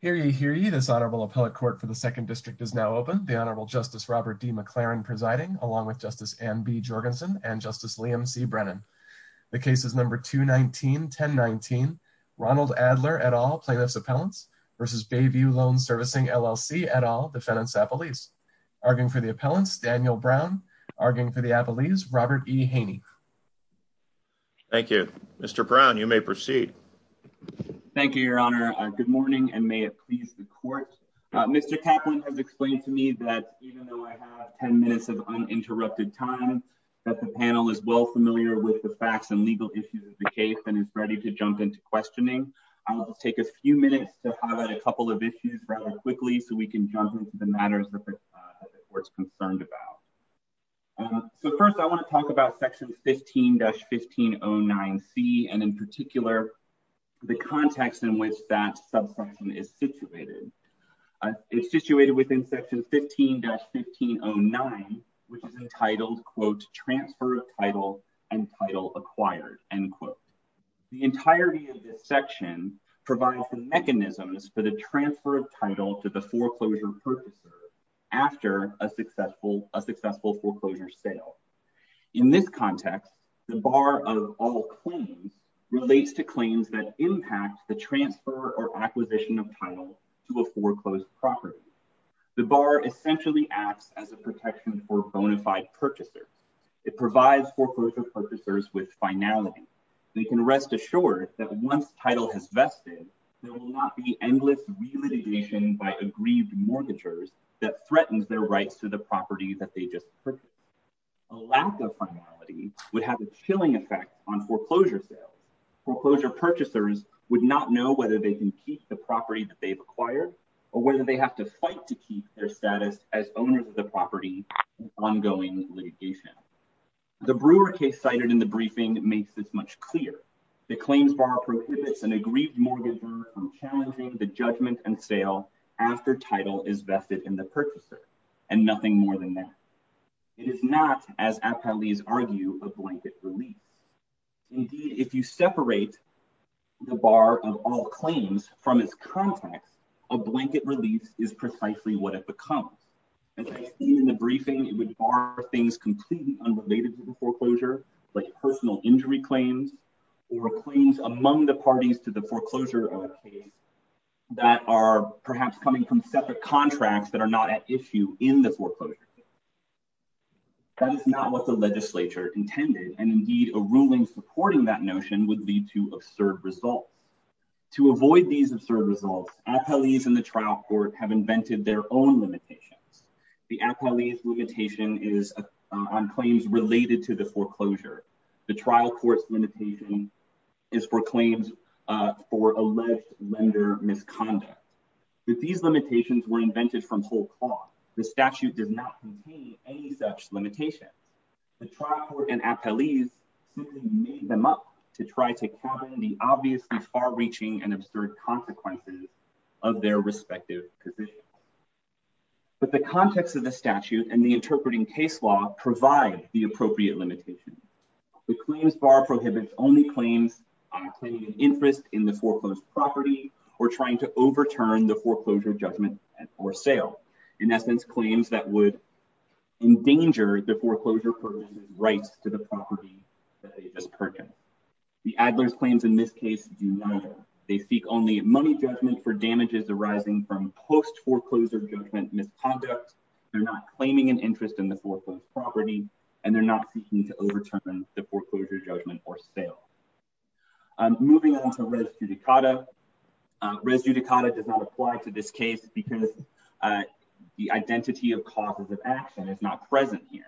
Hear ye, hear ye, this Honorable Appellate Court for the Second District is now open. The Honorable Justice Robert D. McLaren presiding, along with Justice Anne B. Jorgensen and Justice Liam C. Brennan. The case is number 219-1019, Ronald Adler, et al., Plaintiff's Appellants v. Bayview Loan Servicing, LLC, et al., Defendant's Appellees. Arguing for the Appellants, Daniel Brown. Arguing for the Appellees, Robert E. Haney. Thank you. Mr. Brown, you may proceed. Thank you, Your Honor. Good morning, and may it please the Court. Mr. Kaplan has explained to me that even though I have 10 minutes of uninterrupted time, that the panel is well familiar with the facts and legal issues of the case and is ready to jump into questioning. I will take a few minutes to highlight a couple of issues rather quickly so we can jump into the matters that the Court is concerned about. First, I want to talk about Section 15-1509C and, in particular, the context in which that subsection is situated. It's situated within Section 15-1509, which is entitled, quote, Transfer of Title and Title Acquired, end quote. The entirety of this section provides the mechanisms for the transfer of title to the foreclosure purchaser after a successful foreclosure sale. In this context, the bar of all claims relates to claims that impact the transfer or acquisition of title to a foreclosed property. The bar essentially acts as a protection for a bona fide purchaser. It provides foreclosure purchasers with finality. They can rest assured that once title has vested, there will not be endless relitigation by aggrieved mortgagers that threatens their rights to the property that they just purchased. A lack of finality would have a chilling effect on foreclosure sales. Foreclosure purchasers would not know whether they can keep the property that they've acquired or whether they have to fight to keep their status as owners of the property with ongoing litigation. The Brewer case cited in the briefing makes this much clearer. The claims bar prohibits an aggrieved mortgager from challenging the judgment and sale after title is vested in the purchaser, and nothing more than that. It is not, as athletes argue, a blanket release. Indeed, if you separate the bar of all claims from its context, a blanket release is precisely what it becomes. As I stated in the briefing, it would bar things completely unrelated to foreclosure, like personal injury claims or claims among the parties to the foreclosure of a case that are perhaps coming from separate contracts that are not at issue in the foreclosure. That is not what the legislature intended, and indeed, a ruling supporting that notion would lead to absurd results. To avoid these absurd results, appellees in the trial court have invented their own limitations. The appellee's limitation is on claims related to the foreclosure. The trial court's limitation is for claims for alleged lender misconduct. These limitations were invented from whole cloth. The statute did not contain any such limitation. The trial court and appellees simply made them up to try to cover the obviously far-reaching and absurd consequences of their respective positions. But the context of the statute and the interpreting case law provide the appropriate limitations. The claims bar prohibits only claims claiming an interest in the foreclosed property or trying to overturn the foreclosure judgment or sale. In essence, claims that would endanger the foreclosure person's rights to the property that they just purchased. The Adler's claims in this case do neither. They seek only money judgment for damages arising from post-foreclosure judgment misconduct. They're not claiming an interest in the foreclosed property, and they're not seeking to overturn the foreclosure judgment or sale. Moving on to res judicata, res judicata does not apply to this case because the identity of causes of action is not present here.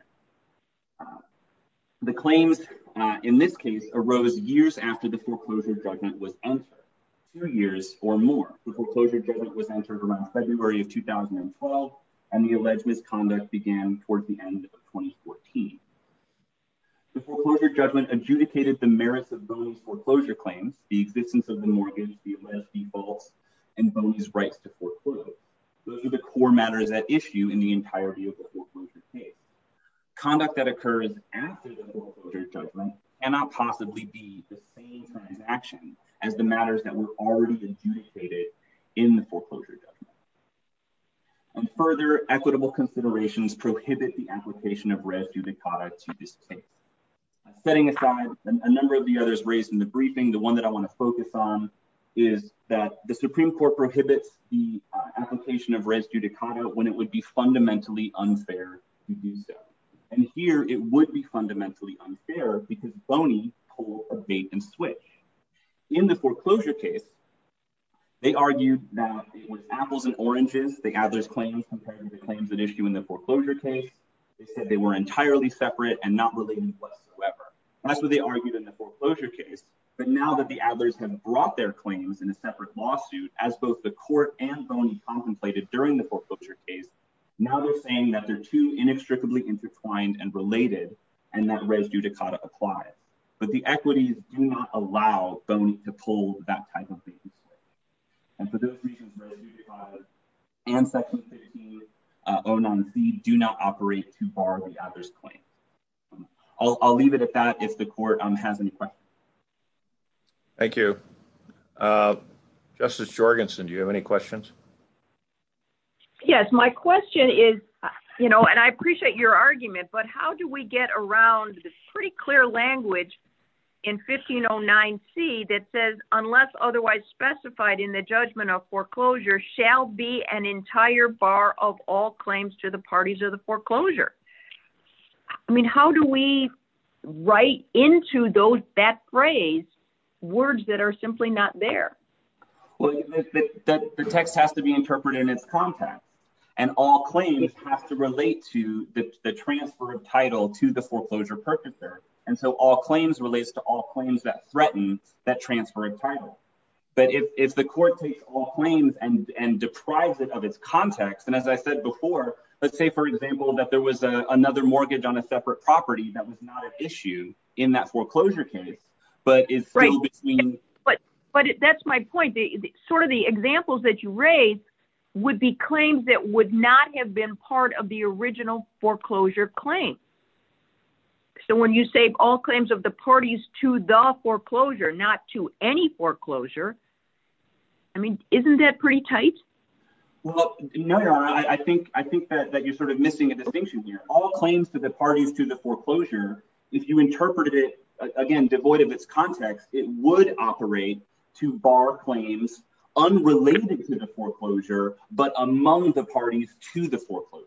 The claims in this case arose years after the foreclosure judgment was entered, two years or more. The foreclosure judgment was entered around February of 2012, and the alleged misconduct began toward the end of 2014. The foreclosure judgment adjudicated the merits of those foreclosure claims, the existence of the mortgage, the alleged defaults, and Boney's rights to foreclose. Those are the core matters at issue in the entirety of the foreclosure case. Conduct that occurs after the foreclosure judgment cannot possibly be the same transaction as the matters that were already adjudicated in the foreclosure judgment. And further, equitable considerations prohibit the application of res judicata to this case. Setting aside a number of the others raised in the briefing, the one that I want to focus on is that the Supreme Court prohibits the application of res judicata when it would be fundamentally unfair to do so. And here it would be fundamentally unfair because Boney pulled a bait and switch. In the foreclosure case, they argued that it was apples and oranges, the Adler's claims, compared to the claims at issue in the foreclosure case. They said they were entirely separate and not related whatsoever. That's what they argued in the foreclosure case. But now that the Adlers have brought their claims in a separate lawsuit, as both the court and Boney contemplated during the foreclosure case, now they're saying that they're too inextricably intertwined and related and that res judicata applies. But the equities do not allow Boney to pull that type of bait and switch. And for those reasons, res judicata and Section 1609C do not operate to bar the Adler's claims. I'll leave it at that if the court has any questions. Thank you. Justice Jorgenson, do you have any questions? Yes, my question is, you know, and I appreciate your argument. But how do we get around the pretty clear language in 1509C that says, unless otherwise specified in the judgment of foreclosure shall be an entire bar of all claims to the parties of the foreclosure? I mean, how do we write into those that phrase words that are simply not there? Well, the text has to be interpreted in its context and all claims have to relate to the transfer of title to the foreclosure purchaser. And so all claims relates to all claims that threaten that transfer of title. But if the court takes all claims and deprives it of its context. And as I said before, let's say, for example, that there was another mortgage on a separate property that was not an issue in that foreclosure case. But that's my point. Sort of the examples that you raise would be claims that would not have been part of the original foreclosure claim. So when you say all claims of the parties to the foreclosure, not to any foreclosure, I mean, isn't that pretty tight? Well, no, I think that you're sort of missing a distinction here. All claims to the parties to the foreclosure. If you interpreted it again, devoid of its context, it would operate to bar claims unrelated to the foreclosure, but among the parties to the foreclosure.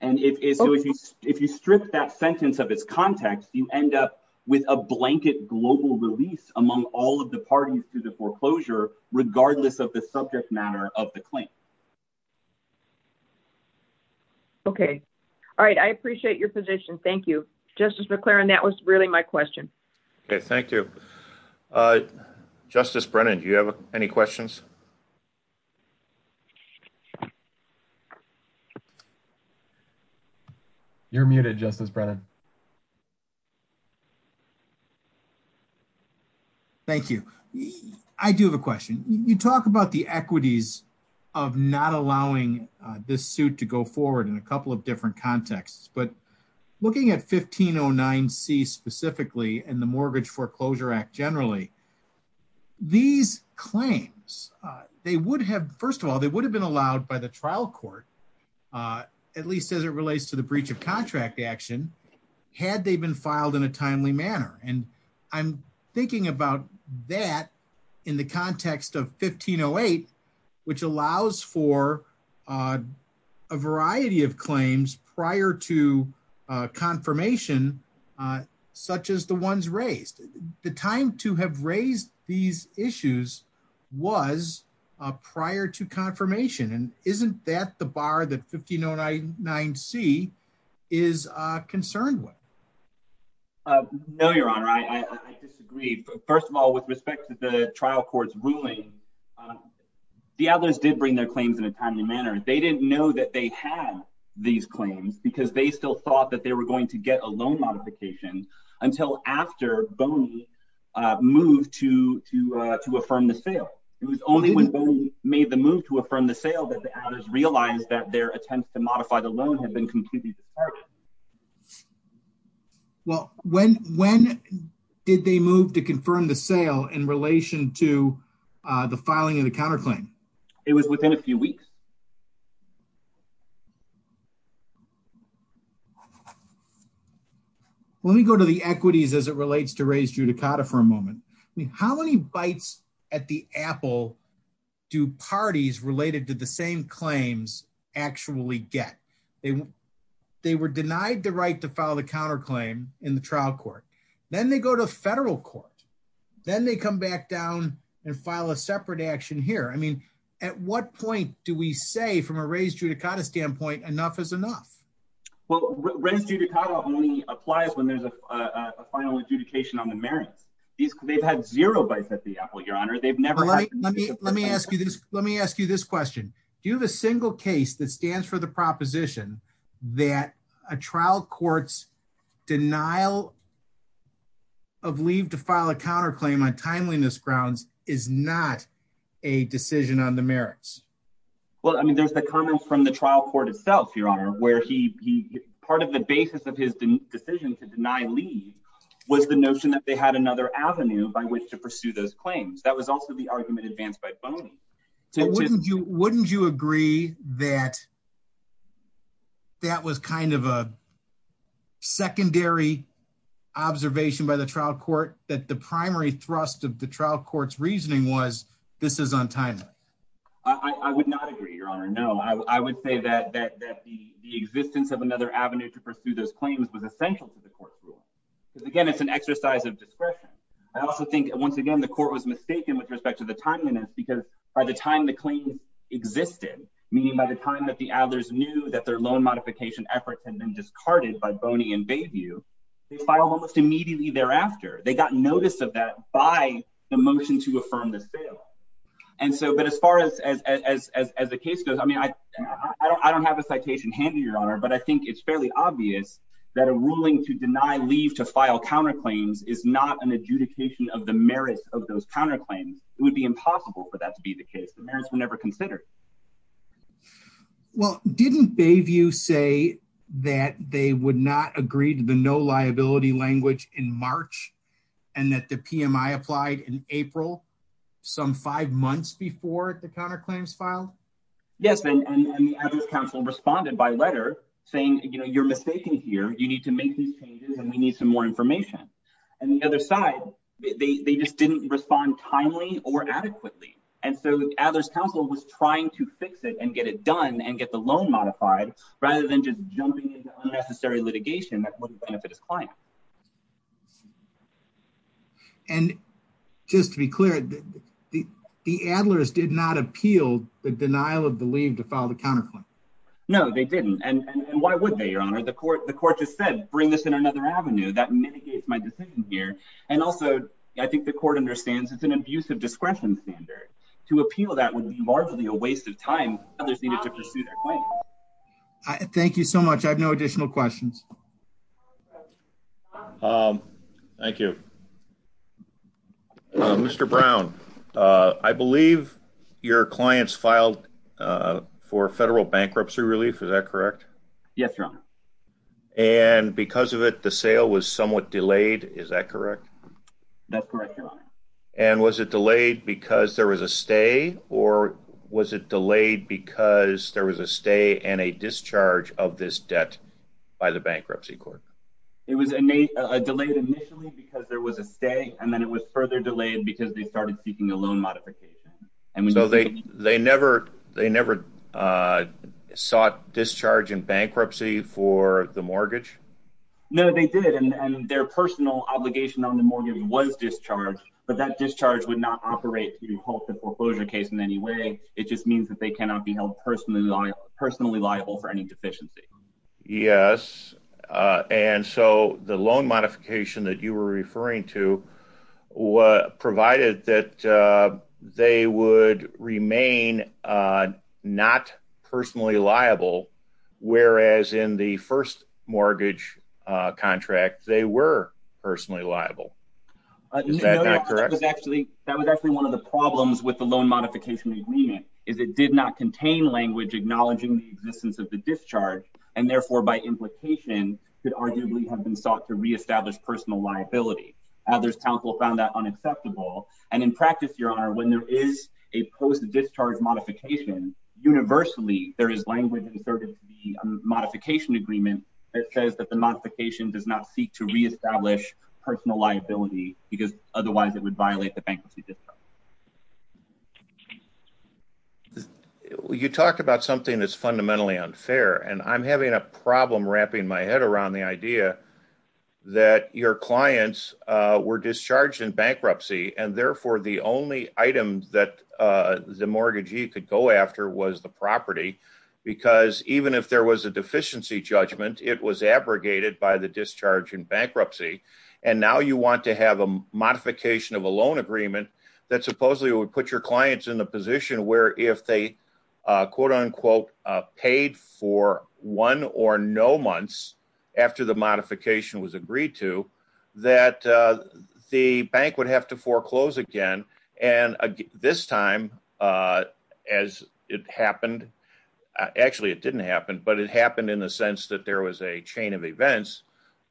And if you strip that sentence of its context, you end up with a blanket global release among all of the parties to the foreclosure, regardless of the subject matter of the claim. OK. All right. I appreciate your position. Thank you, Justice McClaren. That was really my question. OK, thank you. Justice Brennan, do you have any questions? You're muted, Justice Brennan. Thank you. I do have a question. You talk about the equities of not allowing this suit to go forward in a couple of different contexts, but looking at 1509C specifically and the Mortgage Foreclosure Act generally, these claims, they would have, first of all, they would have been allowed by the trial court, at least as it relates to the breach of contract action. Had they been filed in a timely manner. And I'm thinking about that in the context of 1508, which allows for a variety of claims prior to confirmation, such as the ones raised. The time to have raised these issues was prior to confirmation. And isn't that the bar that 1509C is concerned with? No, Your Honor, I disagree. First of all, with respect to the trial court's ruling, the Adler's did bring their claims in a timely manner. They didn't know that they had these claims because they still thought that they were going to get a loan modification until after Boney moved to affirm the sale. It was only when Boney made the move to affirm the sale that the Adler's realized that their attempts to modify the loan had been completely departed. Well, when did they move to confirm the sale in relation to the filing of the counterclaim? It was within a few weeks. Let me go to the equities as it relates to raised judicata for a moment. I mean, how many bites at the apple do parties related to the same claims actually get? They were denied the right to file the counterclaim in the trial court. Then they go to federal court. Then they come back down and file a separate action here. I mean, at what point do we say from a raised judicata standpoint, enough is enough? Raised judicata only applies when there's a final adjudication on the merits. They've had zero bites at the apple, Your Honor. Let me ask you this question. Do you have a single case that stands for the proposition that a trial court's denial of leave to file a counterclaim on timeliness grounds is not a decision on the merits? Well, I mean, there's the comment from the trial court itself, Your Honor, where part of the basis of his decision to deny leave was the notion that they had another avenue by which to pursue those claims. That was also the argument advanced by Boney. Wouldn't you agree that that was kind of a secondary observation by the trial court that the primary thrust of the trial court's reasoning was this is on timeliness? I would not agree, Your Honor, no. I would say that the existence of another avenue to pursue those claims was essential to the court's rule. Again, it's an exercise of discretion. I also think, once again, the court was mistaken with respect to the timeliness because by the time the claims existed, meaning by the time that the Adlers knew that their loan modification effort had been discarded by Boney and Bayview, they filed almost immediately thereafter. They got notice of that by the motion to affirm the sale. But as far as the case goes, I mean, I don't have a citation handy, Your Honor, but I think it's fairly obvious that a ruling to deny leave to file counterclaims is not an adjudication of the merits of those counterclaims. It would be impossible for that to be the case. The merits were never considered. Well, didn't Bayview say that they would not agree to the no liability language in March and that the PMI applied in April some five months before the counterclaims filed? Yes, and the Adlers counsel responded by letter saying, you know, you're mistaken here. You need to make these changes and we need some more information. And the other side, they just didn't respond timely or adequately. And so Adler's counsel was trying to fix it and get it done and get the loan modified rather than just jumping into unnecessary litigation that would benefit his client. And just to be clear, the Adlers did not appeal the denial of the leave to file the counterclaim. No, they didn't. And why would they, Your Honor? The court just said, bring this in another avenue that mitigates my decision here. And also, I think the court understands it's an abuse of discretion standard. To appeal that would be largely a waste of time. Thank you so much. I have no additional questions. Thank you. Mr. Brown, I believe your clients filed for federal bankruptcy relief. Is that correct? Yes, Your Honor. And because of it, the sale was somewhat delayed. Is that correct? That's correct, Your Honor. And was it delayed because there was a stay, or was it delayed because there was a stay and a discharge of this debt by the bankruptcy court? It was delayed initially because there was a stay, and then it was further delayed because they started seeking a loan modification. So they never sought discharge in bankruptcy for the mortgage? No, they did. And their personal obligation on the mortgage was discharge, but that discharge would not operate to halt the foreclosure case in any way. It just means that they cannot be held personally liable for any deficiency. Yes, and so the loan modification that you were referring to provided that they would remain not personally liable, whereas in the first mortgage contract they were personally liable. Is that not correct? That was actually one of the problems with the loan modification agreement, is it did not contain language acknowledging the existence of the discharge, and therefore by implication could arguably have been sought to reestablish personal liability. Others counsel found that unacceptable, and in practice, Your Honor, when there is a post-discharge modification, universally there is language in the modification agreement that says that the modification does not seek to reestablish personal liability, because otherwise it would violate the bankruptcy discharge. You talk about something that's fundamentally unfair, and I'm having a problem wrapping my head around the idea that your clients were discharged in bankruptcy, and therefore the only item that the mortgagee could go after was the property, because even if there was a deficiency judgment, it was abrogated by the discharge in bankruptcy, and now you want to have a modification of a loan agreement that supposedly would put your clients in the position where if they, quote unquote, paid for one or no months after the modification was agreed to, that the bank would have to foreclose again, and this time as it happened, actually it didn't happen, but it happened in the sense that there was a chain of events.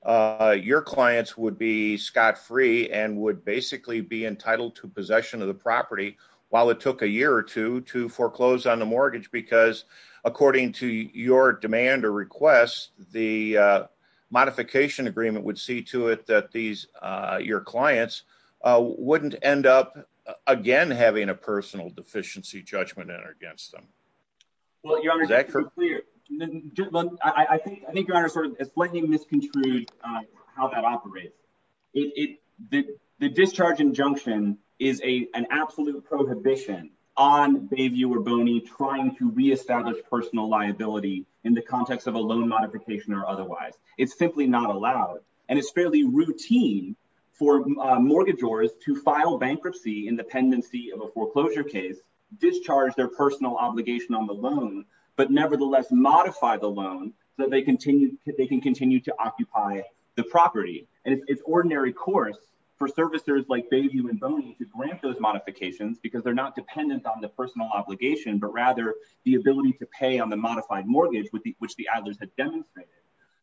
Your clients would be scot-free and would basically be entitled to possession of the property while it took a year or two to foreclose on the mortgage, because according to your demand or request, the modification agreement would see to it that your clients wouldn't end up again having a personal deficiency judgment against them. Well, your Honor, just to be clear, I think your Honor has slightly misconstrued how that operates. The discharge injunction is an absolute prohibition on Bayview or Boney trying to reestablish personal liability in the context of a loan modification or otherwise. It's simply not allowed, and it's fairly routine for mortgagors to file bankruptcy in the pendency of a foreclosure case, discharge their personal obligation on the loan, but nevertheless modify the loan so that they can continue to occupy the property, and it's ordinary course for servicers like Bayview and Boney to grant those modifications because they're not dependent on the personal obligation, but rather the ability to pay on the modified mortgage, which the Adler's had demonstrated.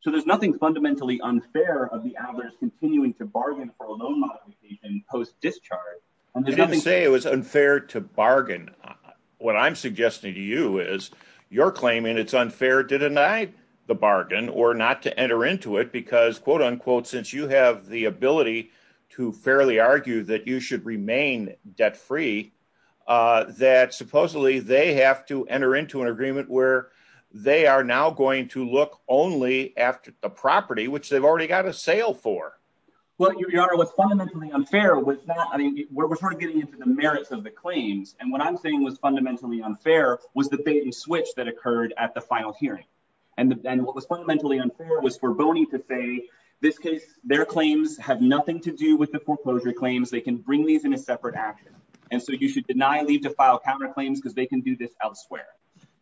So there's nothing fundamentally unfair of the Adler's continuing to bargain for a loan modification post-discharge. You didn't say it was unfair to bargain. What I'm suggesting to you is you're claiming it's unfair to deny the bargain or not to enter into it because, quote unquote, since you have the ability to fairly argue that you should remain debt-free, that supposedly they have to enter into an agreement where they are now going to look only after the property, which they've already got a sale for. Well, Your Honor, what's fundamentally unfair was not, I mean, we're sort of getting into the merits of the claims, and what I'm saying was fundamentally unfair was the bait and switch that occurred at the final hearing. And then what was fundamentally unfair was for Boney to say, this case, their claims have nothing to do with the foreclosure claims. They can bring these in a separate action. And so you should deny leave to file counterclaims because they can do this elsewhere.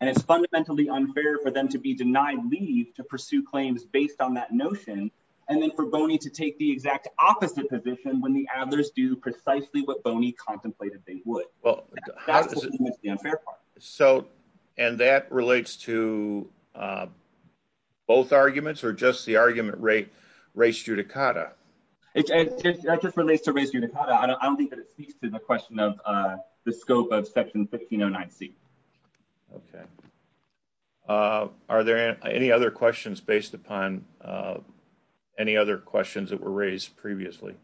And it's fundamentally unfair for them to be denied leave to pursue claims based on that notion. And then for Boney to take the exact opposite position when the Adler's do precisely what Boney contemplated they would. Well, so and that relates to both arguments or just the argument rate race judicata? It just relates to race judicata. I don't think that it speaks to the question of the scope of Section 1509C. OK. Are there any other questions based upon any other questions that were raised previously?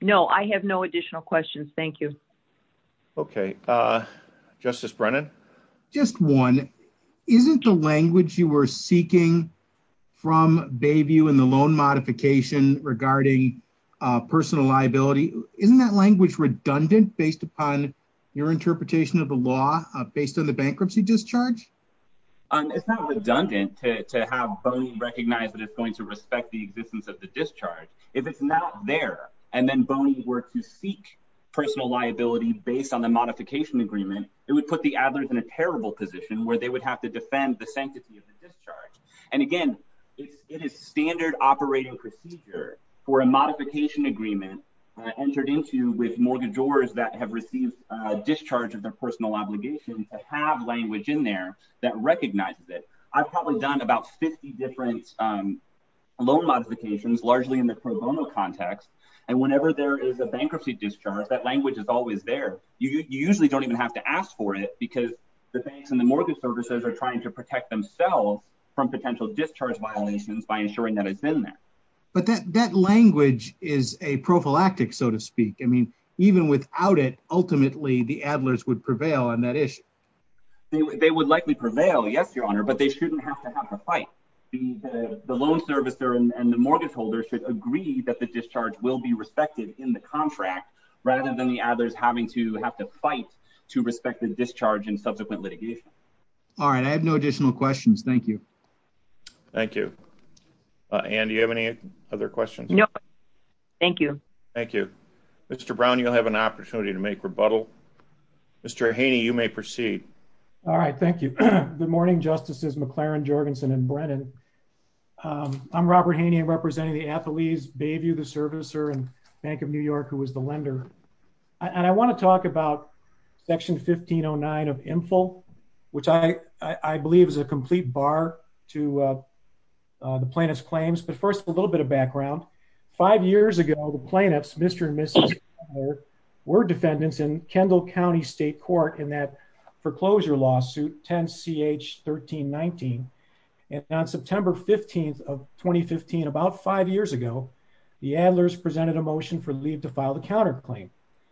No, I have no additional questions. Thank you. OK. Justice Brennan. Just one. Isn't the language you were seeking from Bayview in the loan modification regarding personal liability, isn't that language redundant based upon your interpretation of the law based on the bankruptcy discharge? It's not redundant to have Boney recognize that it's going to respect the existence of the discharge. If it's not there and then Boney were to seek personal liability based on the modification agreement, it would put the Adler's in a terrible position where they would have to defend the sanctity of the discharge. And again, it is standard operating procedure for a modification agreement entered into with mortgagors that have received a discharge of their personal obligation to have language in there that recognizes it. I've probably done about 50 different loan modifications, largely in the pro bono context. And whenever there is a bankruptcy discharge, that language is always there. You usually don't even have to ask for it because the banks and the mortgage services are trying to protect themselves from potential discharge violations by ensuring that it's in there. But that language is a prophylactic, so to speak. I mean, even without it, ultimately, the Adler's would prevail on that issue. They would likely prevail. Yes, Your Honor. But they shouldn't have to have a fight. The loan servicer and the mortgage holder should agree that the discharge will be respected in the contract rather than the Adler's having to have to fight to respect the discharge and subsequent litigation. All right. I have no additional questions. Thank you. Thank you. Anne, do you have any other questions? No. Thank you. Thank you. Mr. Brown, you'll have an opportunity to make rebuttal. Mr. Haney, you may proceed. All right. Thank you. Good morning, Justices McLaren, Jorgensen, and Brennan. I'm Robert Haney, representing the athletes, Bayview, the servicer, and Bank of New York, who was the lender. And I want to talk about Section 1509 of INFL, which I believe is a complete bar to the plaintiff's claims. But first, a little bit of background. Five years ago, the plaintiffs, Mr. and Mrs. Adler, were defendants in Kendall County State Court in that foreclosure lawsuit, 10-CH-1319. And on September 15th of 2015, about five years ago, the Adlers presented a motion for leave to file the counterclaim.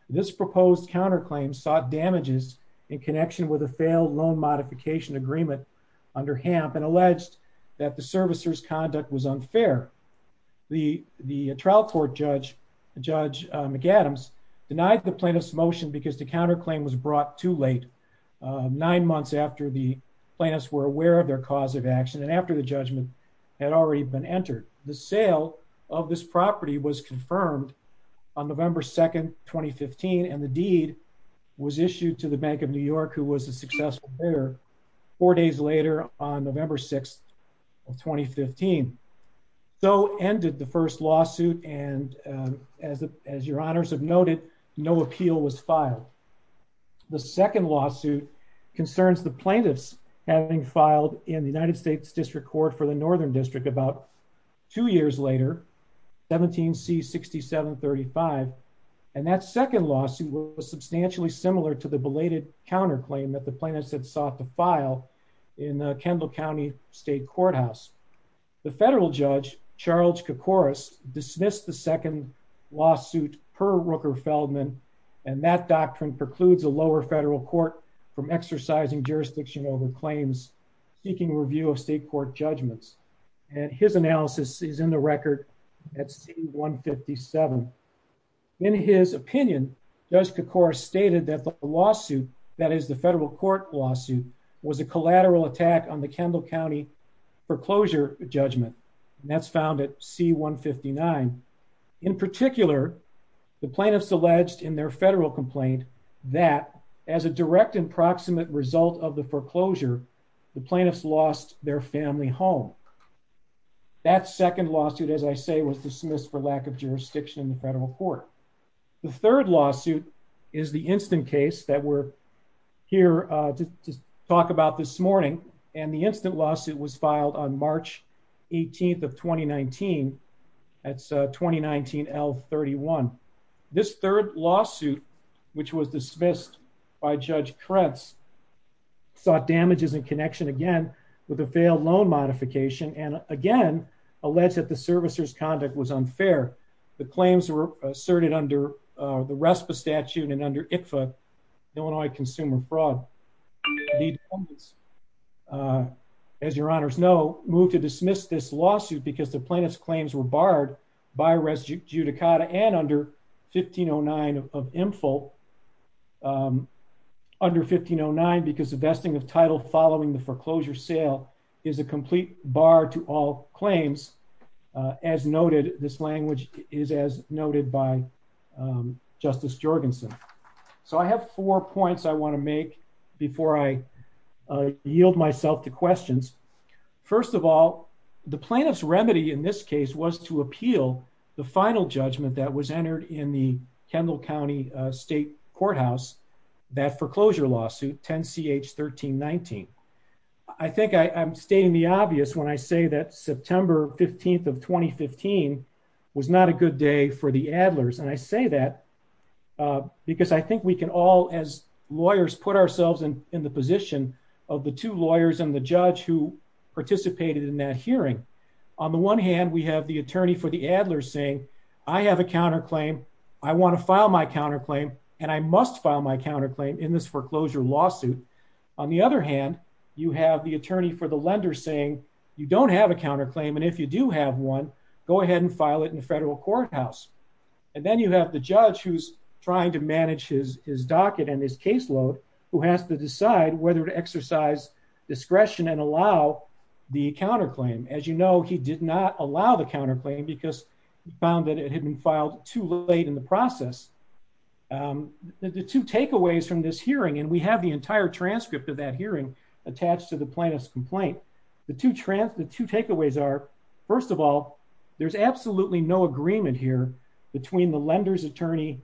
This proposed counterclaim sought damages in connection with a failed loan modification agreement under HAMP and alleged that the servicer's conduct was unfair. The trial court judge, Judge McAdams, denied the plaintiff's motion because the counterclaim was brought too late, nine months after the plaintiffs were aware of their cause of action and after the judgment had already been entered. The sale of this property was confirmed on November 2nd, 2015, and the deed was issued to the Bank of New York, who was a successful bidder, four days later on November 6th of 2015. So ended the first lawsuit, and as your honors have noted, no appeal was filed. The second lawsuit concerns the plaintiffs having filed in the United States District Court for the Northern District about two years later, 17-C-6735, and that second lawsuit was substantially similar to the belated counterclaim that the plaintiffs had sought to file in the Kendall County State Courthouse. The federal judge, Charles Kokoris, dismissed the second lawsuit per Rooker-Feldman, and that doctrine precludes a lower federal court from exercising jurisdiction over claims, seeking review of state court judgments, and his analysis is in the record at C-157. In his opinion, Judge Kokoris stated that the lawsuit, that is the federal court lawsuit, was a collateral attack on the Kendall County foreclosure judgment, and that's found at C-159. In particular, the plaintiffs alleged in their federal complaint that, as a direct and proximate result of the foreclosure, the plaintiffs lost their family home. That second lawsuit, as I say, was dismissed for lack of jurisdiction in the federal court. The third lawsuit is the instant case that we're here to talk about this morning, and the instant lawsuit was filed on March 18th of 2019. That's 2019-L-31. This third lawsuit, which was dismissed by Judge Krentz, sought damages in connection, again, with a failed loan modification, and, again, alleged that the servicer's conduct was unfair. The claims were asserted under the RESPA statute and under ICFA, Illinois Consumer Fraud. As your honors know, moved to dismiss this lawsuit because the plaintiff's claims were barred by res judicata and under 1509 of IMFL. Under 1509, because the vesting of title following the foreclosure sale is a complete bar to all claims. As noted, this language is as noted by Justice Jorgensen. So I have four points I want to make before I yield myself to questions. First of all, the plaintiff's remedy in this case was to appeal the final judgment that was entered in the Kendall County State Courthouse, that foreclosure lawsuit, 10-CH-1319. I think I'm stating the obvious when I say that September 15th of 2015 was not a good day for the Adlers. And I say that because I think we can all, as lawyers, put ourselves in the position of the two lawyers and the judge who participated in that hearing. On the one hand, we have the attorney for the Adlers saying, I have a counterclaim, I want to file my counterclaim, and I must file my counterclaim in this foreclosure lawsuit. On the other hand, you have the attorney for the lender saying, you don't have a counterclaim, and if you do have one, go ahead and file it in the federal courthouse. And then you have the judge who's trying to manage his docket and his caseload who has to decide whether to exercise discretion and allow the counterclaim. As you know, he did not allow the counterclaim because he found that it had been filed too late in the process. The two takeaways from this hearing, and we have the entire transcript of that hearing attached to the plaintiff's complaint. The two takeaways are, first of all, there's absolutely no agreement here between the lender's attorney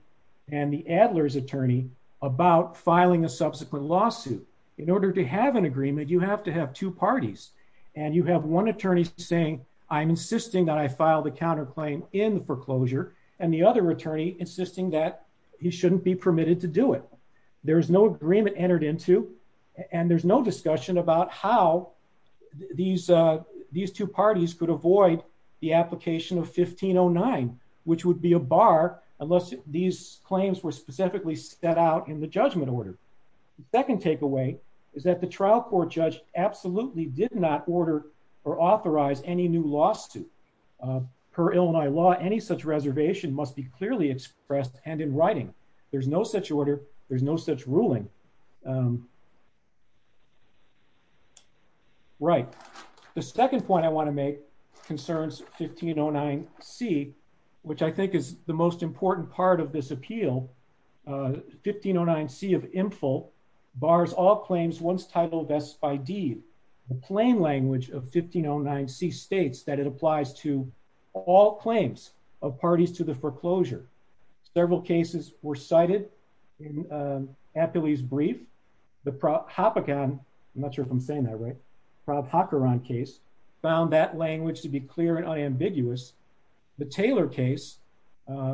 and the Adler's attorney about filing a subsequent lawsuit. In order to have an agreement, you have to have two parties. And you have one attorney saying, I'm insisting that I file the counterclaim in the foreclosure, and the other attorney insisting that he shouldn't be permitted to do it. There is no agreement entered into, and there's no discussion about how these two parties could avoid the application of 1509, which would be a bar unless these claims were specifically set out in the judgment order. The second takeaway is that the trial court judge absolutely did not order or authorize any new lawsuit. Per Illinois law, any such reservation must be clearly expressed and in writing. There's no such order. There's no such ruling. Right. The second point I want to make concerns 1509C, which I think is the most important part of this appeal. 1509C of IMPFEL bars all claims once titled S by D. The plain language of 1509C states that it applies to all claims of parties to the foreclosure. Several cases were cited in Appley's brief. The Hoppegan, I'm not sure if I'm saying that right, Rob Hockeron case, found that language to be clear and unambiguous. The Taylor case,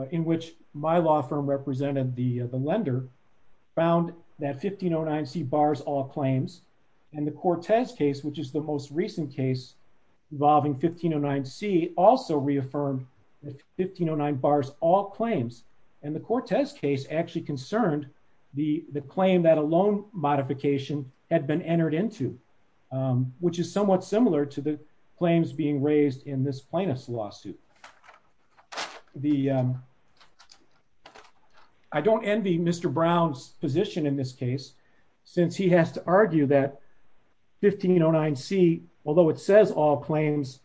in which my law firm represented the lender, found that 1509C bars all claims. And the Cortez case, which is the most recent case involving 1509C, also reaffirmed that 1509 bars all claims. And the Cortez case actually concerned the claim that a loan modification had been entered into, which is somewhat similar to the claims being raised in this plaintiff's lawsuit. I don't envy Mr. Brown's position in this case, since he has to argue that 1509C, although it says all claims,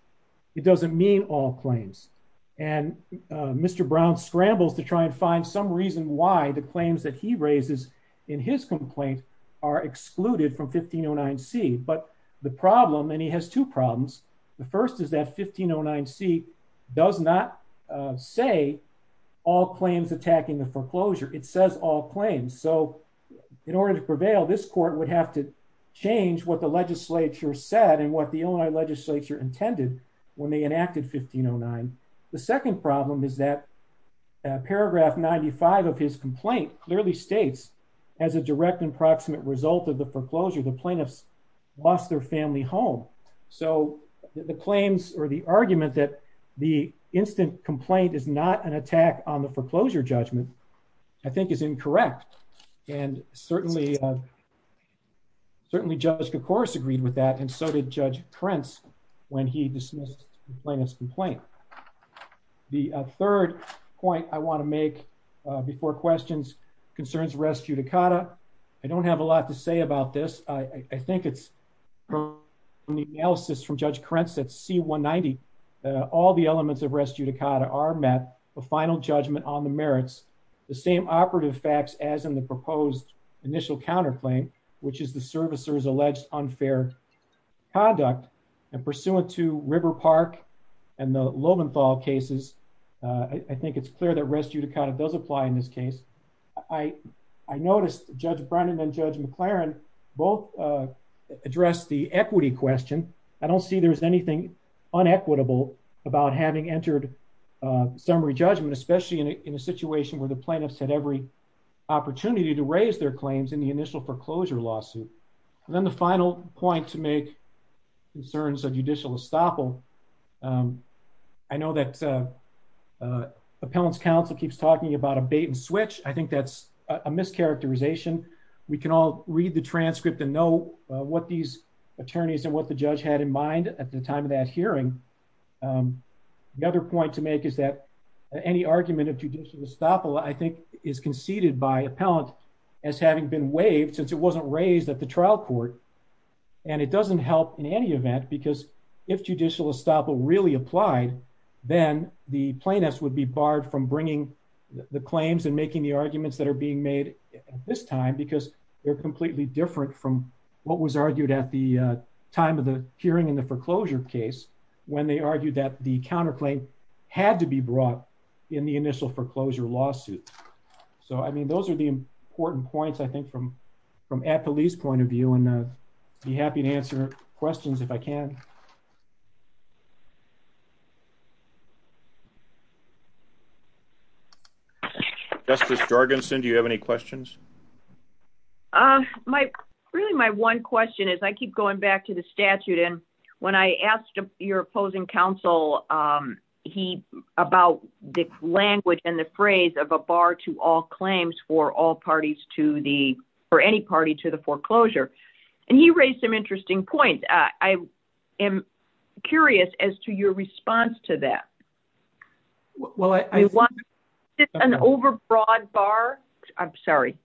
it doesn't mean all claims. And Mr. Brown scrambles to try and find some reason why the claims that he raises in his complaint are excluded from 1509C. But the problem, and he has two problems. The first is that 1509C does not say all claims attacking the foreclosure. It says all claims. So in order to prevail, this court would have to change what the legislature said and what the Illinois legislature intended when they enacted 1509. The second problem is that paragraph 95 of his complaint clearly states, as a direct and proximate result of the foreclosure, the plaintiffs lost their family home. So the claims or the argument that the instant complaint is not an attack on the foreclosure judgment, I think, is incorrect. And certainly, Judge Koukouros agreed with that, and so did Judge Prentz when he dismissed the plaintiff's complaint. The third point I want to make before questions concerns res judicata. I don't have a lot to say about this. I think it's from the analysis from Judge Prentz that C190, all the elements of res judicata are met with final judgment on the merits. The same operative facts as in the proposed initial counterclaim, which is the servicer's alleged unfair conduct. And pursuant to River Park and the Lowenthal cases, I think it's clear that res judicata does apply in this case. I noticed Judge Brennan and Judge McLaren both addressed the equity question. I don't see there's anything unequitable about having entered summary judgment, especially in a situation where the plaintiffs had every opportunity to raise their claims in the initial foreclosure lawsuit. And then the final point to make concerns a judicial estoppel. I know that Appellant's counsel keeps talking about a bait and switch. I think that's a mischaracterization. We can all read the transcript and know what these attorneys and what the judge had in mind at the time of that hearing. The other point to make is that any argument of judicial estoppel I think is conceded by Appellant as having been waived since it wasn't raised at the trial court. And it doesn't help in any event because if judicial estoppel really applied, then the plaintiffs would be barred from bringing the claims and making the arguments that are being made at this time because they're completely different from what was argued at the time of the hearing in the foreclosure case, when they argued that the counterclaim had to be brought in the initial foreclosure lawsuit. So I mean, those are the important points I think from Appellee's point of view and be happy to answer questions if I can. Justice Jorgensen, do you have any questions? My really my one question is I keep going back to the statute. And when I asked your opposing counsel, he about the language and the phrase of a bar to all claims for all parties to the or any party to the foreclosure. And he raised some interesting points. I am curious as to your response to that. An over broad bar. I'm sorry.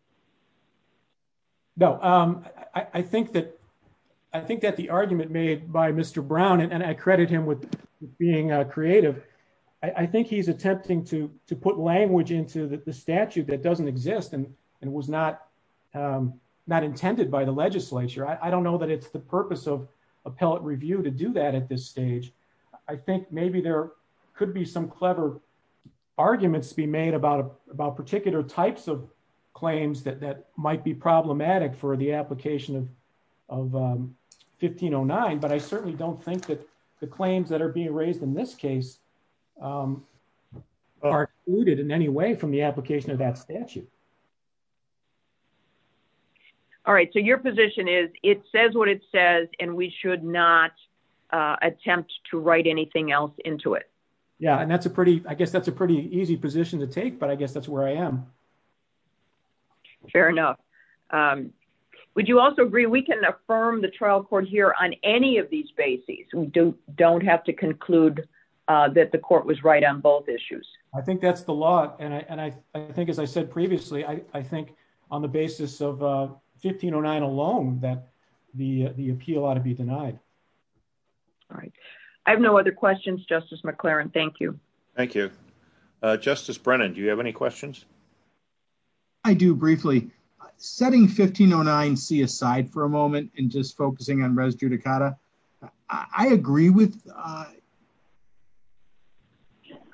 No, I think that I think that the argument made by Mr. Brown and I credit him with being creative. I think he's attempting to to put language into the statute that doesn't exist and it was not not intended by the legislature. I don't know that it's the purpose of appellate review to do that at this stage. I think maybe there could be some clever arguments be made about about particular types of claims that that might be problematic for the application of 1509. But I certainly don't think that the claims that are being raised in this case are rooted in any way from the application of that statute. All right. So your position is it says what it says and we should not attempt to write anything else into it. Yeah. And that's a pretty I guess that's a pretty easy position to take. But I guess that's where I am. Fair enough. Would you also agree we can affirm the trial court here on any of these bases. We don't don't have to conclude that the court was right on both issues. I think that's the law. And I think as I said previously I think on the basis of 1509 alone that the the appeal ought to be denied. All right. I have no other questions. Justice McLaren. Thank you. Thank you. Justice Brennan do you have any questions. I do briefly setting 1509 C aside for a moment and just focusing on res judicata. I agree with.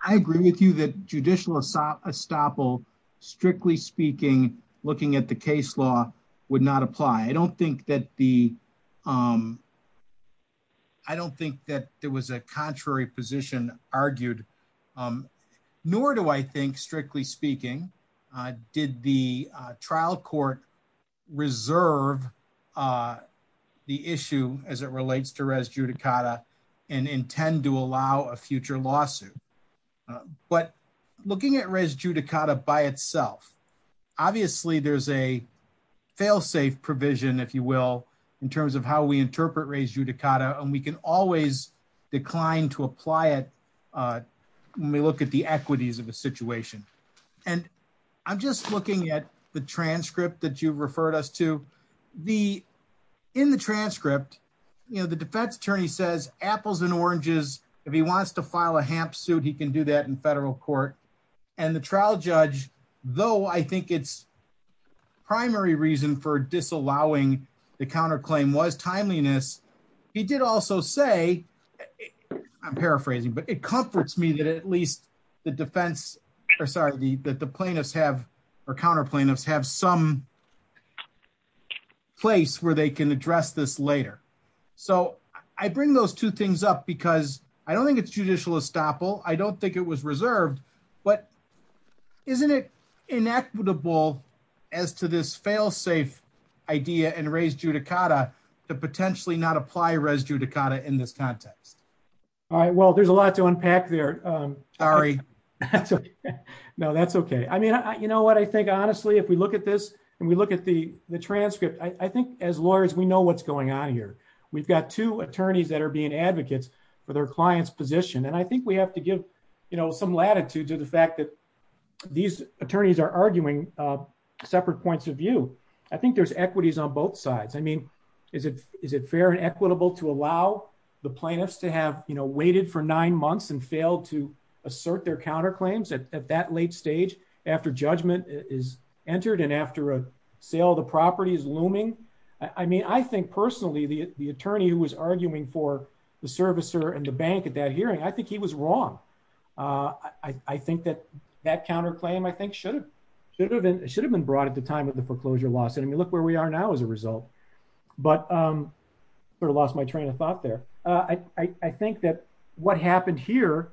I agree with you that judicial assault estoppel strictly speaking looking at the case law would not apply. I don't think that the I don't think that there was a contrary position argued. Nor do I think strictly speaking did the trial court reserve the issue as it relates to res judicata and intend to allow a future lawsuit. But looking at res judicata by itself. Obviously, there's a failsafe provision, if you will, in terms of how we interpret res judicata and we can always decline to apply it. When we look at the equities of a situation. And I'm just looking at the transcript that you referred us to the in the transcript. You know, the defense attorney says apples and oranges. If he wants to file a ham suit. He can do that in federal court and the trial judge, though I think it's The primary reason for disallowing the counter claim was timeliness. He did also say I'm paraphrasing, but it comforts me that at least the defense or sorry the that the plaintiffs have or counter plaintiffs have some Place where they can address this later. So I bring those two things up because I don't think it's judicial estoppel. I don't think it was reserved, but Isn't it inequitable as to this failsafe idea and res judicata to potentially not apply res judicata in this context. All right. Well, there's a lot to unpack there. Sorry. No, that's okay. I mean, you know what I think. Honestly, if we look at this and we look at the transcript. I think as lawyers, we know what's going on here. We've got two attorneys that are being advocates for their clients position. And I think we have to give you know some latitude to the fact that These attorneys are arguing separate points of view. I think there's equities on both sides. I mean, Is it, is it fair and equitable to allow the plaintiffs to have, you know, waited for nine months and failed to assert their counter claims at that late stage after judgment is entered and after a sale the property is looming. I mean, I think personally, the, the attorney who was arguing for the servicer and the bank at that hearing. I think he was wrong. I think that that counter claim, I think, should have should have been should have been brought at the time of the foreclosure lawsuit. I mean, look where we are now as a result, but Sort of lost my train of thought there. I think that what happened here.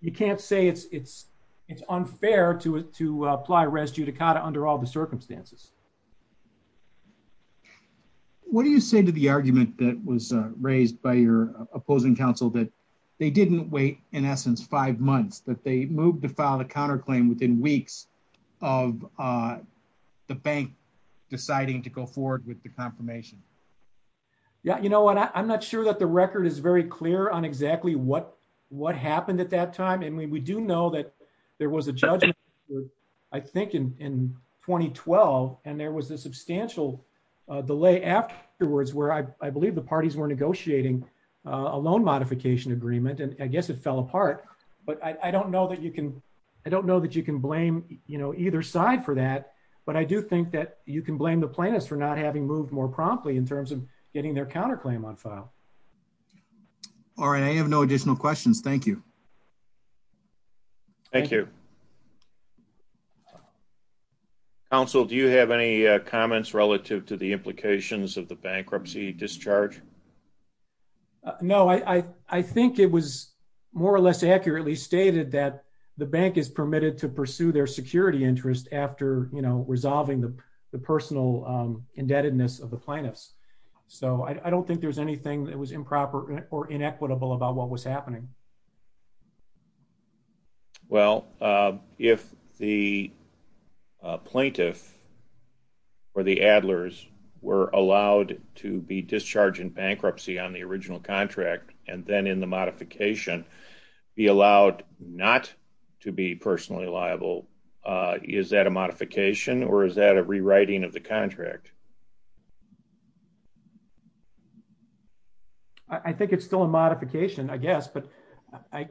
You can't say it's it's it's unfair to to apply res judicata under all the circumstances. What do you say to the argument that was raised by your opposing counsel that they didn't wait. In essence, five months that they moved to file a counter claim within weeks of The bank deciding to go forward with the confirmation Yeah, you know what, I'm not sure that the record is very clear on exactly what what happened at that time. And we do know that there was a judgment. I think in 2012 and there was a substantial delay afterwards, where I believe the parties were negotiating a loan modification agreement and I guess it fell apart, but I don't know that you can I don't know that you can blame you know either side for that. But I do think that you can blame the plaintiffs for not having moved more promptly in terms of getting their counter claim on file. All right. I have no additional questions. Thank you. Thank you. Also, do you have any comments relative to the implications of the bankruptcy discharge. No, I think it was more or less accurately stated that the bank is permitted to pursue their security interest after you know resolving the personal indebtedness of the plaintiffs. So I don't think there's anything that was improper or inequitable about what was happening. Well, if the plaintiff or the Adler's were allowed to be discharged in bankruptcy on the original contract, and then in the modification be allowed not to be personally liable. Is that a modification or is that a rewriting of the contract. I think it's still a modification, I guess, but I,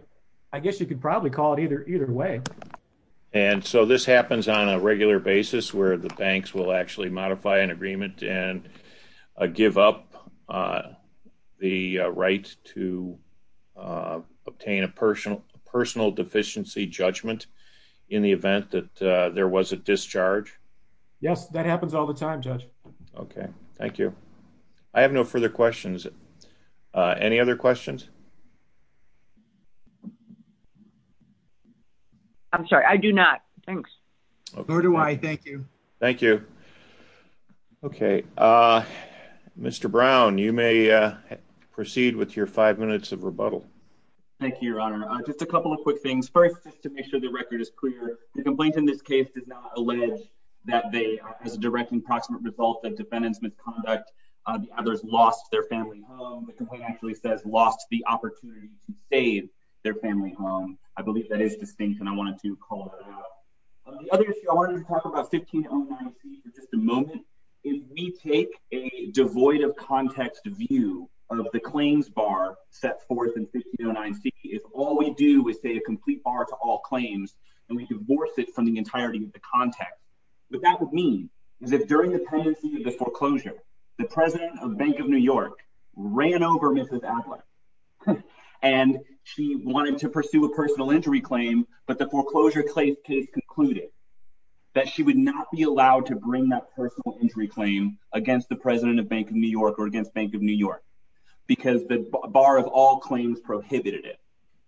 I guess you could probably call it either either way. And so this happens on a regular basis where the banks will actually modify an agreement and give up the right to obtain a personal personal deficiency judgment in the event that there was a discharge. Yes, that happens all the time judge. Okay, thank you. I have no further questions. Any other questions. I'm sorry, I do not. Thanks. Who do I thank you. Thank you. Okay. Mr Brown, you may proceed with your five minutes of rebuttal. Thank you, Your Honor, just a couple of quick things first to make sure the record is clear, the complaint in this case does not allege that they as a direct and proximate result that defendants misconduct. There's lost their family. Actually says lost the opportunity to save their family home. I believe that is distinct and I wanted to call it. Just a moment. If we take a devoid of context view of the claims bar set forth in 609 C is all we do is say a complete bar to all claims and we divorce it from the entirety of the context. But that would mean is if during the foreclosure, the president of Bank of New York ran over Mrs. And she wanted to pursue a personal injury claim, but the foreclosure claims case concluded. That she would not be allowed to bring that personal injury claim against the president of Bank of New York or against Bank of New York. Because the bar of all claims prohibited it.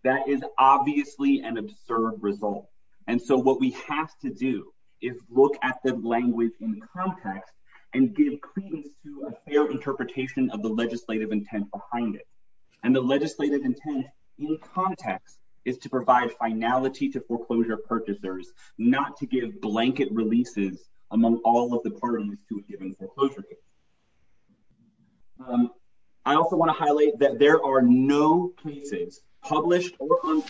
That is obviously an absurd result. And so what we have to do is look at the language in context and give Fair interpretation of the legislative intent behind it and the legislative intent in context is to provide finality to foreclosure purchasers, not to give blanket releases among all of the parties to a given foreclosure case. I also want to highlight that there are no cases published or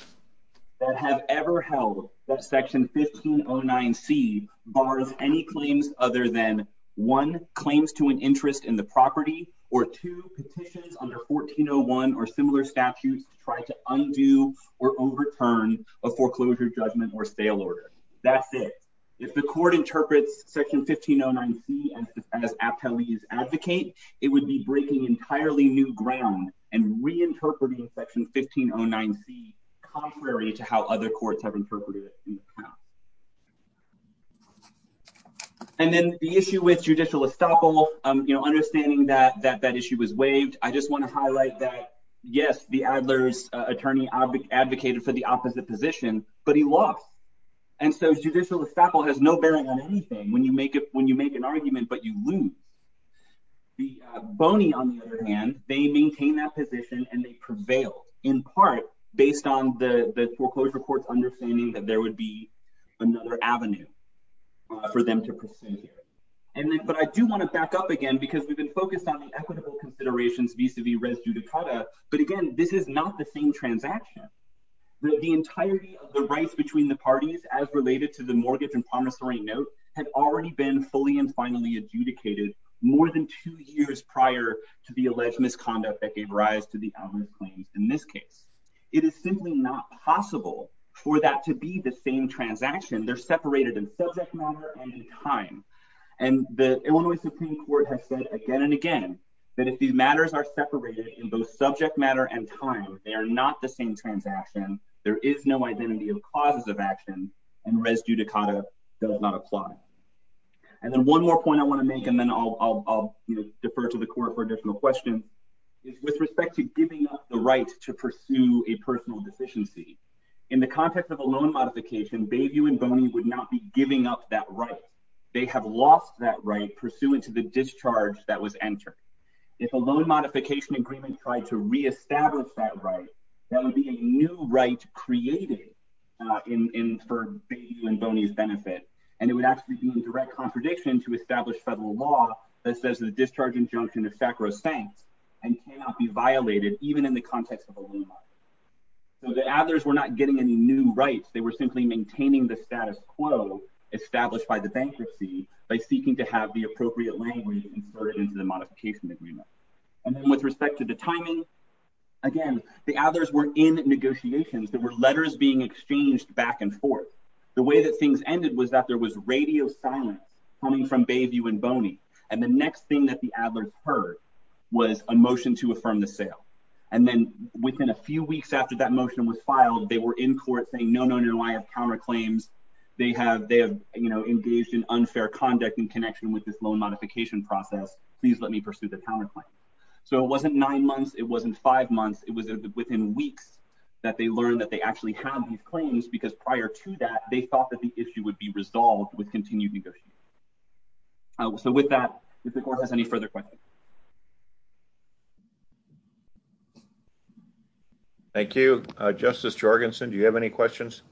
that have ever held that section 1509 C bars any claims other than one claims to an interest in the property or two petitions under 1401 or similar statutes to try to undo or overturn a foreclosure judgment or sale order. That's it. If the court interprets section 1509 C as Aptalese advocate, it would be breaking entirely new ground and reinterpreting section 1509 C contrary to how other courts have interpreted it in the past. And then the issue with judicial estoppel, you know, understanding that that issue was waived. I just want to highlight that. Yes, the Adler's attorney advocate advocated for the opposite position, but he lost. And so judicial estoppel has no bearing on anything when you make it when you make an argument, but you lose. The Boney, on the other hand, they maintain that position and they prevail in part based on the foreclosure court's understanding that there would be another avenue for them to proceed here. But I do want to back up again because we've been focused on the equitable considerations vis-a-vis res judicata. But again, this is not the same transaction. The entirety of the rights between the parties as related to the mortgage and promissory note had already been fully and finally adjudicated more than two years prior to the alleged misconduct that gave rise to the claims in this case. It is simply not possible for that to be the same transaction. They're separated in subject matter and time. And the Illinois Supreme Court has said again and again that if these matters are separated in both subject matter and time, they are not the same transaction. There is no identity of causes of action and res judicata does not apply. And then one more point I want to make and then I'll defer to the court for additional questions. With respect to giving up the right to pursue a personal deficiency. In the context of a loan modification, Bayview and Boney would not be giving up that right. They have lost that right pursuant to the discharge that was entered. If a loan modification agreement tried to reestablish that right, that would be a new right created for Bayview and Boney's benefit. And it would actually be in direct contradiction to establish federal law that says the discharge injunction of SACRO is sanct and cannot be violated even in the context of a loan modification. So the Adlers were not getting any new rights. They were simply maintaining the status quo established by the bankruptcy by seeking to have the appropriate language inserted into the modification agreement. And then with respect to the timing, again, the Adlers were in negotiations. There were letters being exchanged back and forth. The way that things ended was that there was radio silence coming from Bayview and Boney. And the next thing that the Adlers heard was a motion to affirm the sale. And then within a few weeks after that motion was filed, they were in court saying no, no, no, I have power claims. They have engaged in unfair conduct in connection with this loan modification process. Please let me pursue the power claim. So it wasn't nine months, it wasn't five months, it was within weeks that they learned that they actually have these claims because prior to that, they thought that the issue would be resolved with continued negotiations. So with that, if the court has any further questions. Thank you. Justice Jorgensen, do you have any questions?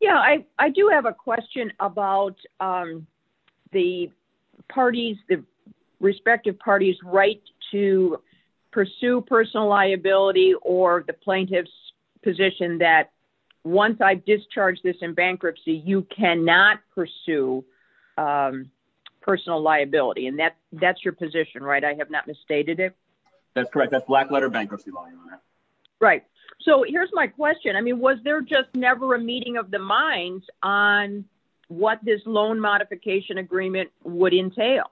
Yeah, I do have a question about the parties, the respective parties' right to pursue personal liability or the plaintiff's position that once I discharge this in bankruptcy, you cannot pursue personal liability. And that's your position, right? I have not misstated it? That's correct. That's black letter bankruptcy law. Right. So here's my question. I mean, was there just never a meeting of the minds on what this loan modification agreement would entail?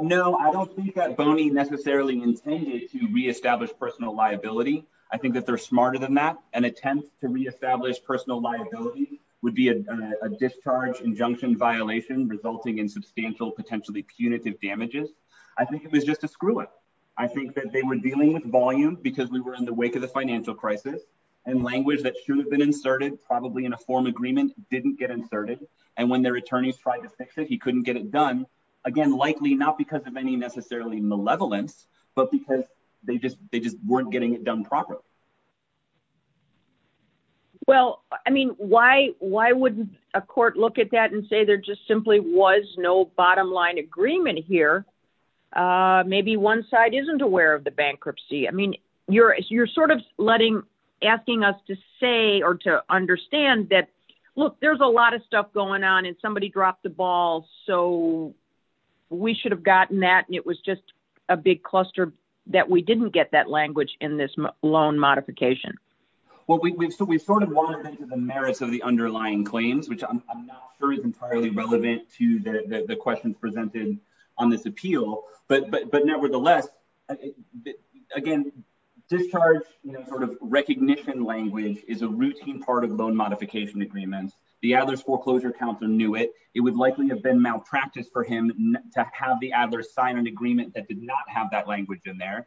No, I don't think that Boney necessarily intended to reestablish personal liability. I think that they're smarter than that. An attempt to reestablish personal liability would be a discharge injunction violation resulting in substantial, potentially punitive damages. I think it was just a screw up. I think that they were dealing with volume because we were in the wake of the financial crisis and language that should have been inserted probably in a form agreement didn't get inserted. And when their attorneys tried to fix it, he couldn't get it done. Again, likely not because of any necessarily malevolence, but because they just weren't getting it done properly. Well, I mean, why why wouldn't a court look at that and say there just simply was no bottom line agreement here? Maybe one side isn't aware of the bankruptcy. I mean, you're you're sort of letting asking us to say or to understand that, look, there's a lot of stuff going on and somebody dropped the ball. So we should have gotten that. And it was just a big cluster that we didn't get that language in this loan modification. Well, we've sort of wandered into the merits of the underlying claims, which I'm not sure is entirely relevant to the questions presented on this appeal. But nevertheless, again, discharge sort of recognition language is a routine part of loan modification agreements. The Adler's foreclosure counselor knew it. It would likely have been malpractice for him to have the Adler sign an agreement that did not have that language in there.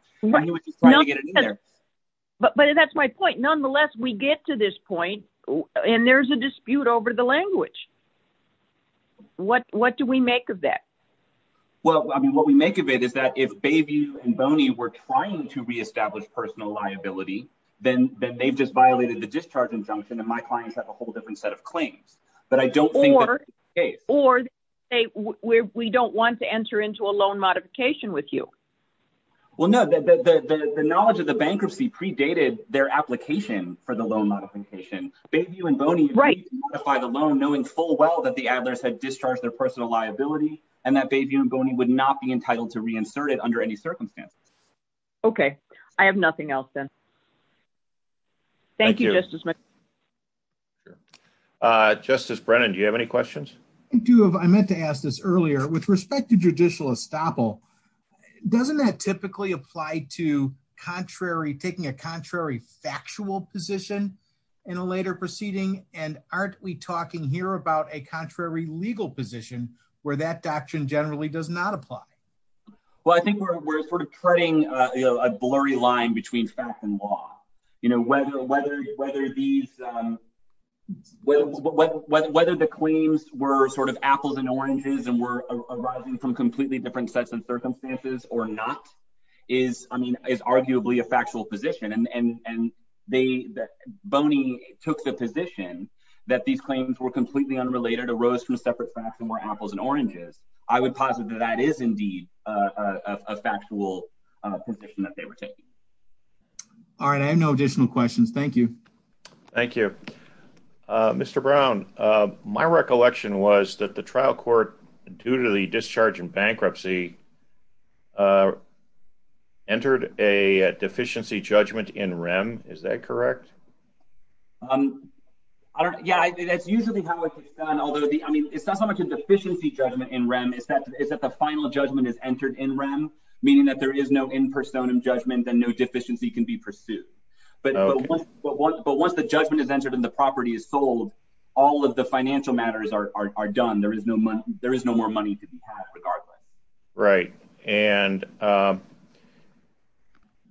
But that's my point. Nonetheless, we get to this point and there's a dispute over the language. What what do we make of that? Well, I mean, what we make of it is that if Bayview and Boney were trying to reestablish personal liability, then they've just violated the discharge injunction. And my clients have a whole different set of claims. But I don't think that's the case. Or we don't want to enter into a loan modification with you. Well, no, the knowledge of the bankruptcy predated their application for the loan modification. Bayview and Boney modified the loan knowing full well that the Adler's had discharged their personal liability and that Bayview and Boney would not be entitled to reinsert it under any circumstances. OK, I have nothing else then. Thank you. Justice Brennan, do you have any questions? I do. I meant to ask this earlier with respect to judicial estoppel. Doesn't that typically apply to contrary taking a contrary factual position in a later proceeding? And aren't we talking here about a contrary legal position where that doctrine generally does not apply? Well, I think we're sort of treading a blurry line between fact and law. You know, whether the claims were sort of apples and oranges and were arising from completely different sets of circumstances or not is, I mean, is arguably a factual position. And Boney took the position that these claims were completely unrelated, arose from separate facts and were apples and oranges. I would posit that that is indeed a factual position that they were taking. All right. I have no additional questions. Thank you. Thank you, Mr. Brown. My recollection was that the trial court, due to the discharge and bankruptcy, entered a deficiency judgment in REM. Is that correct? Yeah, that's usually how it's done, although I mean, it's not so much a deficiency judgment in REM. It's that the final judgment is entered in REM, meaning that there is no in personam judgment and no deficiency can be pursued. But once the judgment is entered and the property is sold, all of the financial matters are done. There is no money. There is no more money to be had regardless. Right. And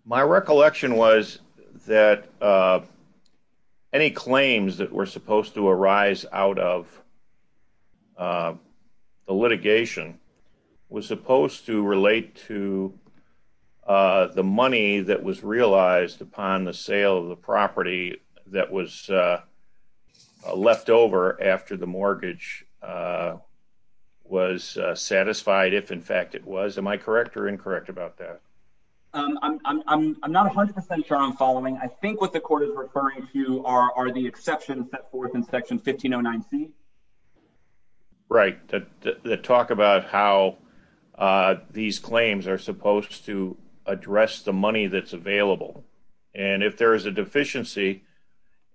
my recollection was that any claims that were supposed to arise out of the litigation was supposed to relate to the money that was realized upon the sale of the property that was left over after the mortgage was satisfied. If in fact it was. Am I correct or incorrect about that? I'm not 100% sure I'm following. I think what the court is referring to are the exceptions set forth in Section 1509C. Right. The talk about how these claims are supposed to address the money that's available. And if there is a deficiency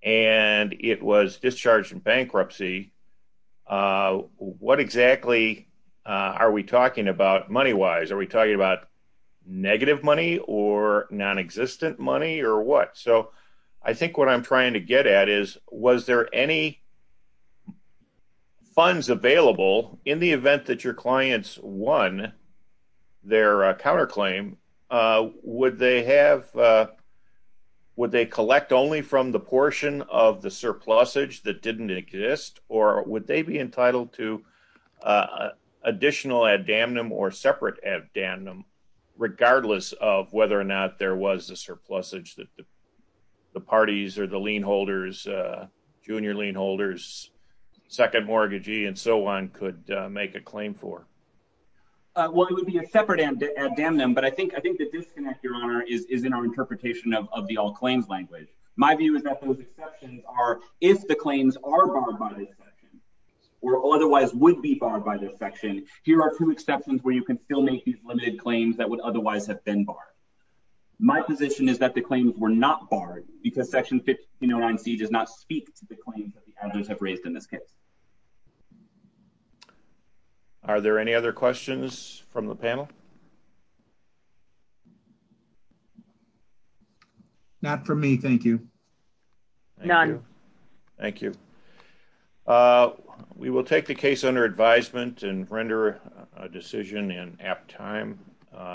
and it was discharged in bankruptcy, what exactly are we talking about money wise? Are we talking about negative money or nonexistent money or what? So I think what I'm trying to get at is, was there any funds available in the event that your clients won their counterclaim? Would they collect only from the portion of the surplusage that didn't exist or would they be entitled to additional ad damnum or separate ad damnum regardless of whether or not there was a surplusage that the parties or the lien holders, junior lien holders, second mortgagee and so on could make a claim for? Well, it would be a separate ad damnum. But I think I think the disconnect, Your Honor, is in our interpretation of the all claims language. My view is that those exceptions are if the claims are barred by this section or otherwise would be barred by this section. Here are two exceptions where you can still make these limited claims that would otherwise have been barred. My position is that the claims were not barred because Section 1509C does not speak to the claims that the owners have raised in this case. Are there any other questions from the panel? Not for me. Thank you. None. Thank you. We will take the case under advisement and render a decision in apt time.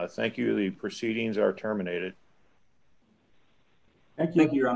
Thank you. The proceedings are terminated. Thank you, Your Honor.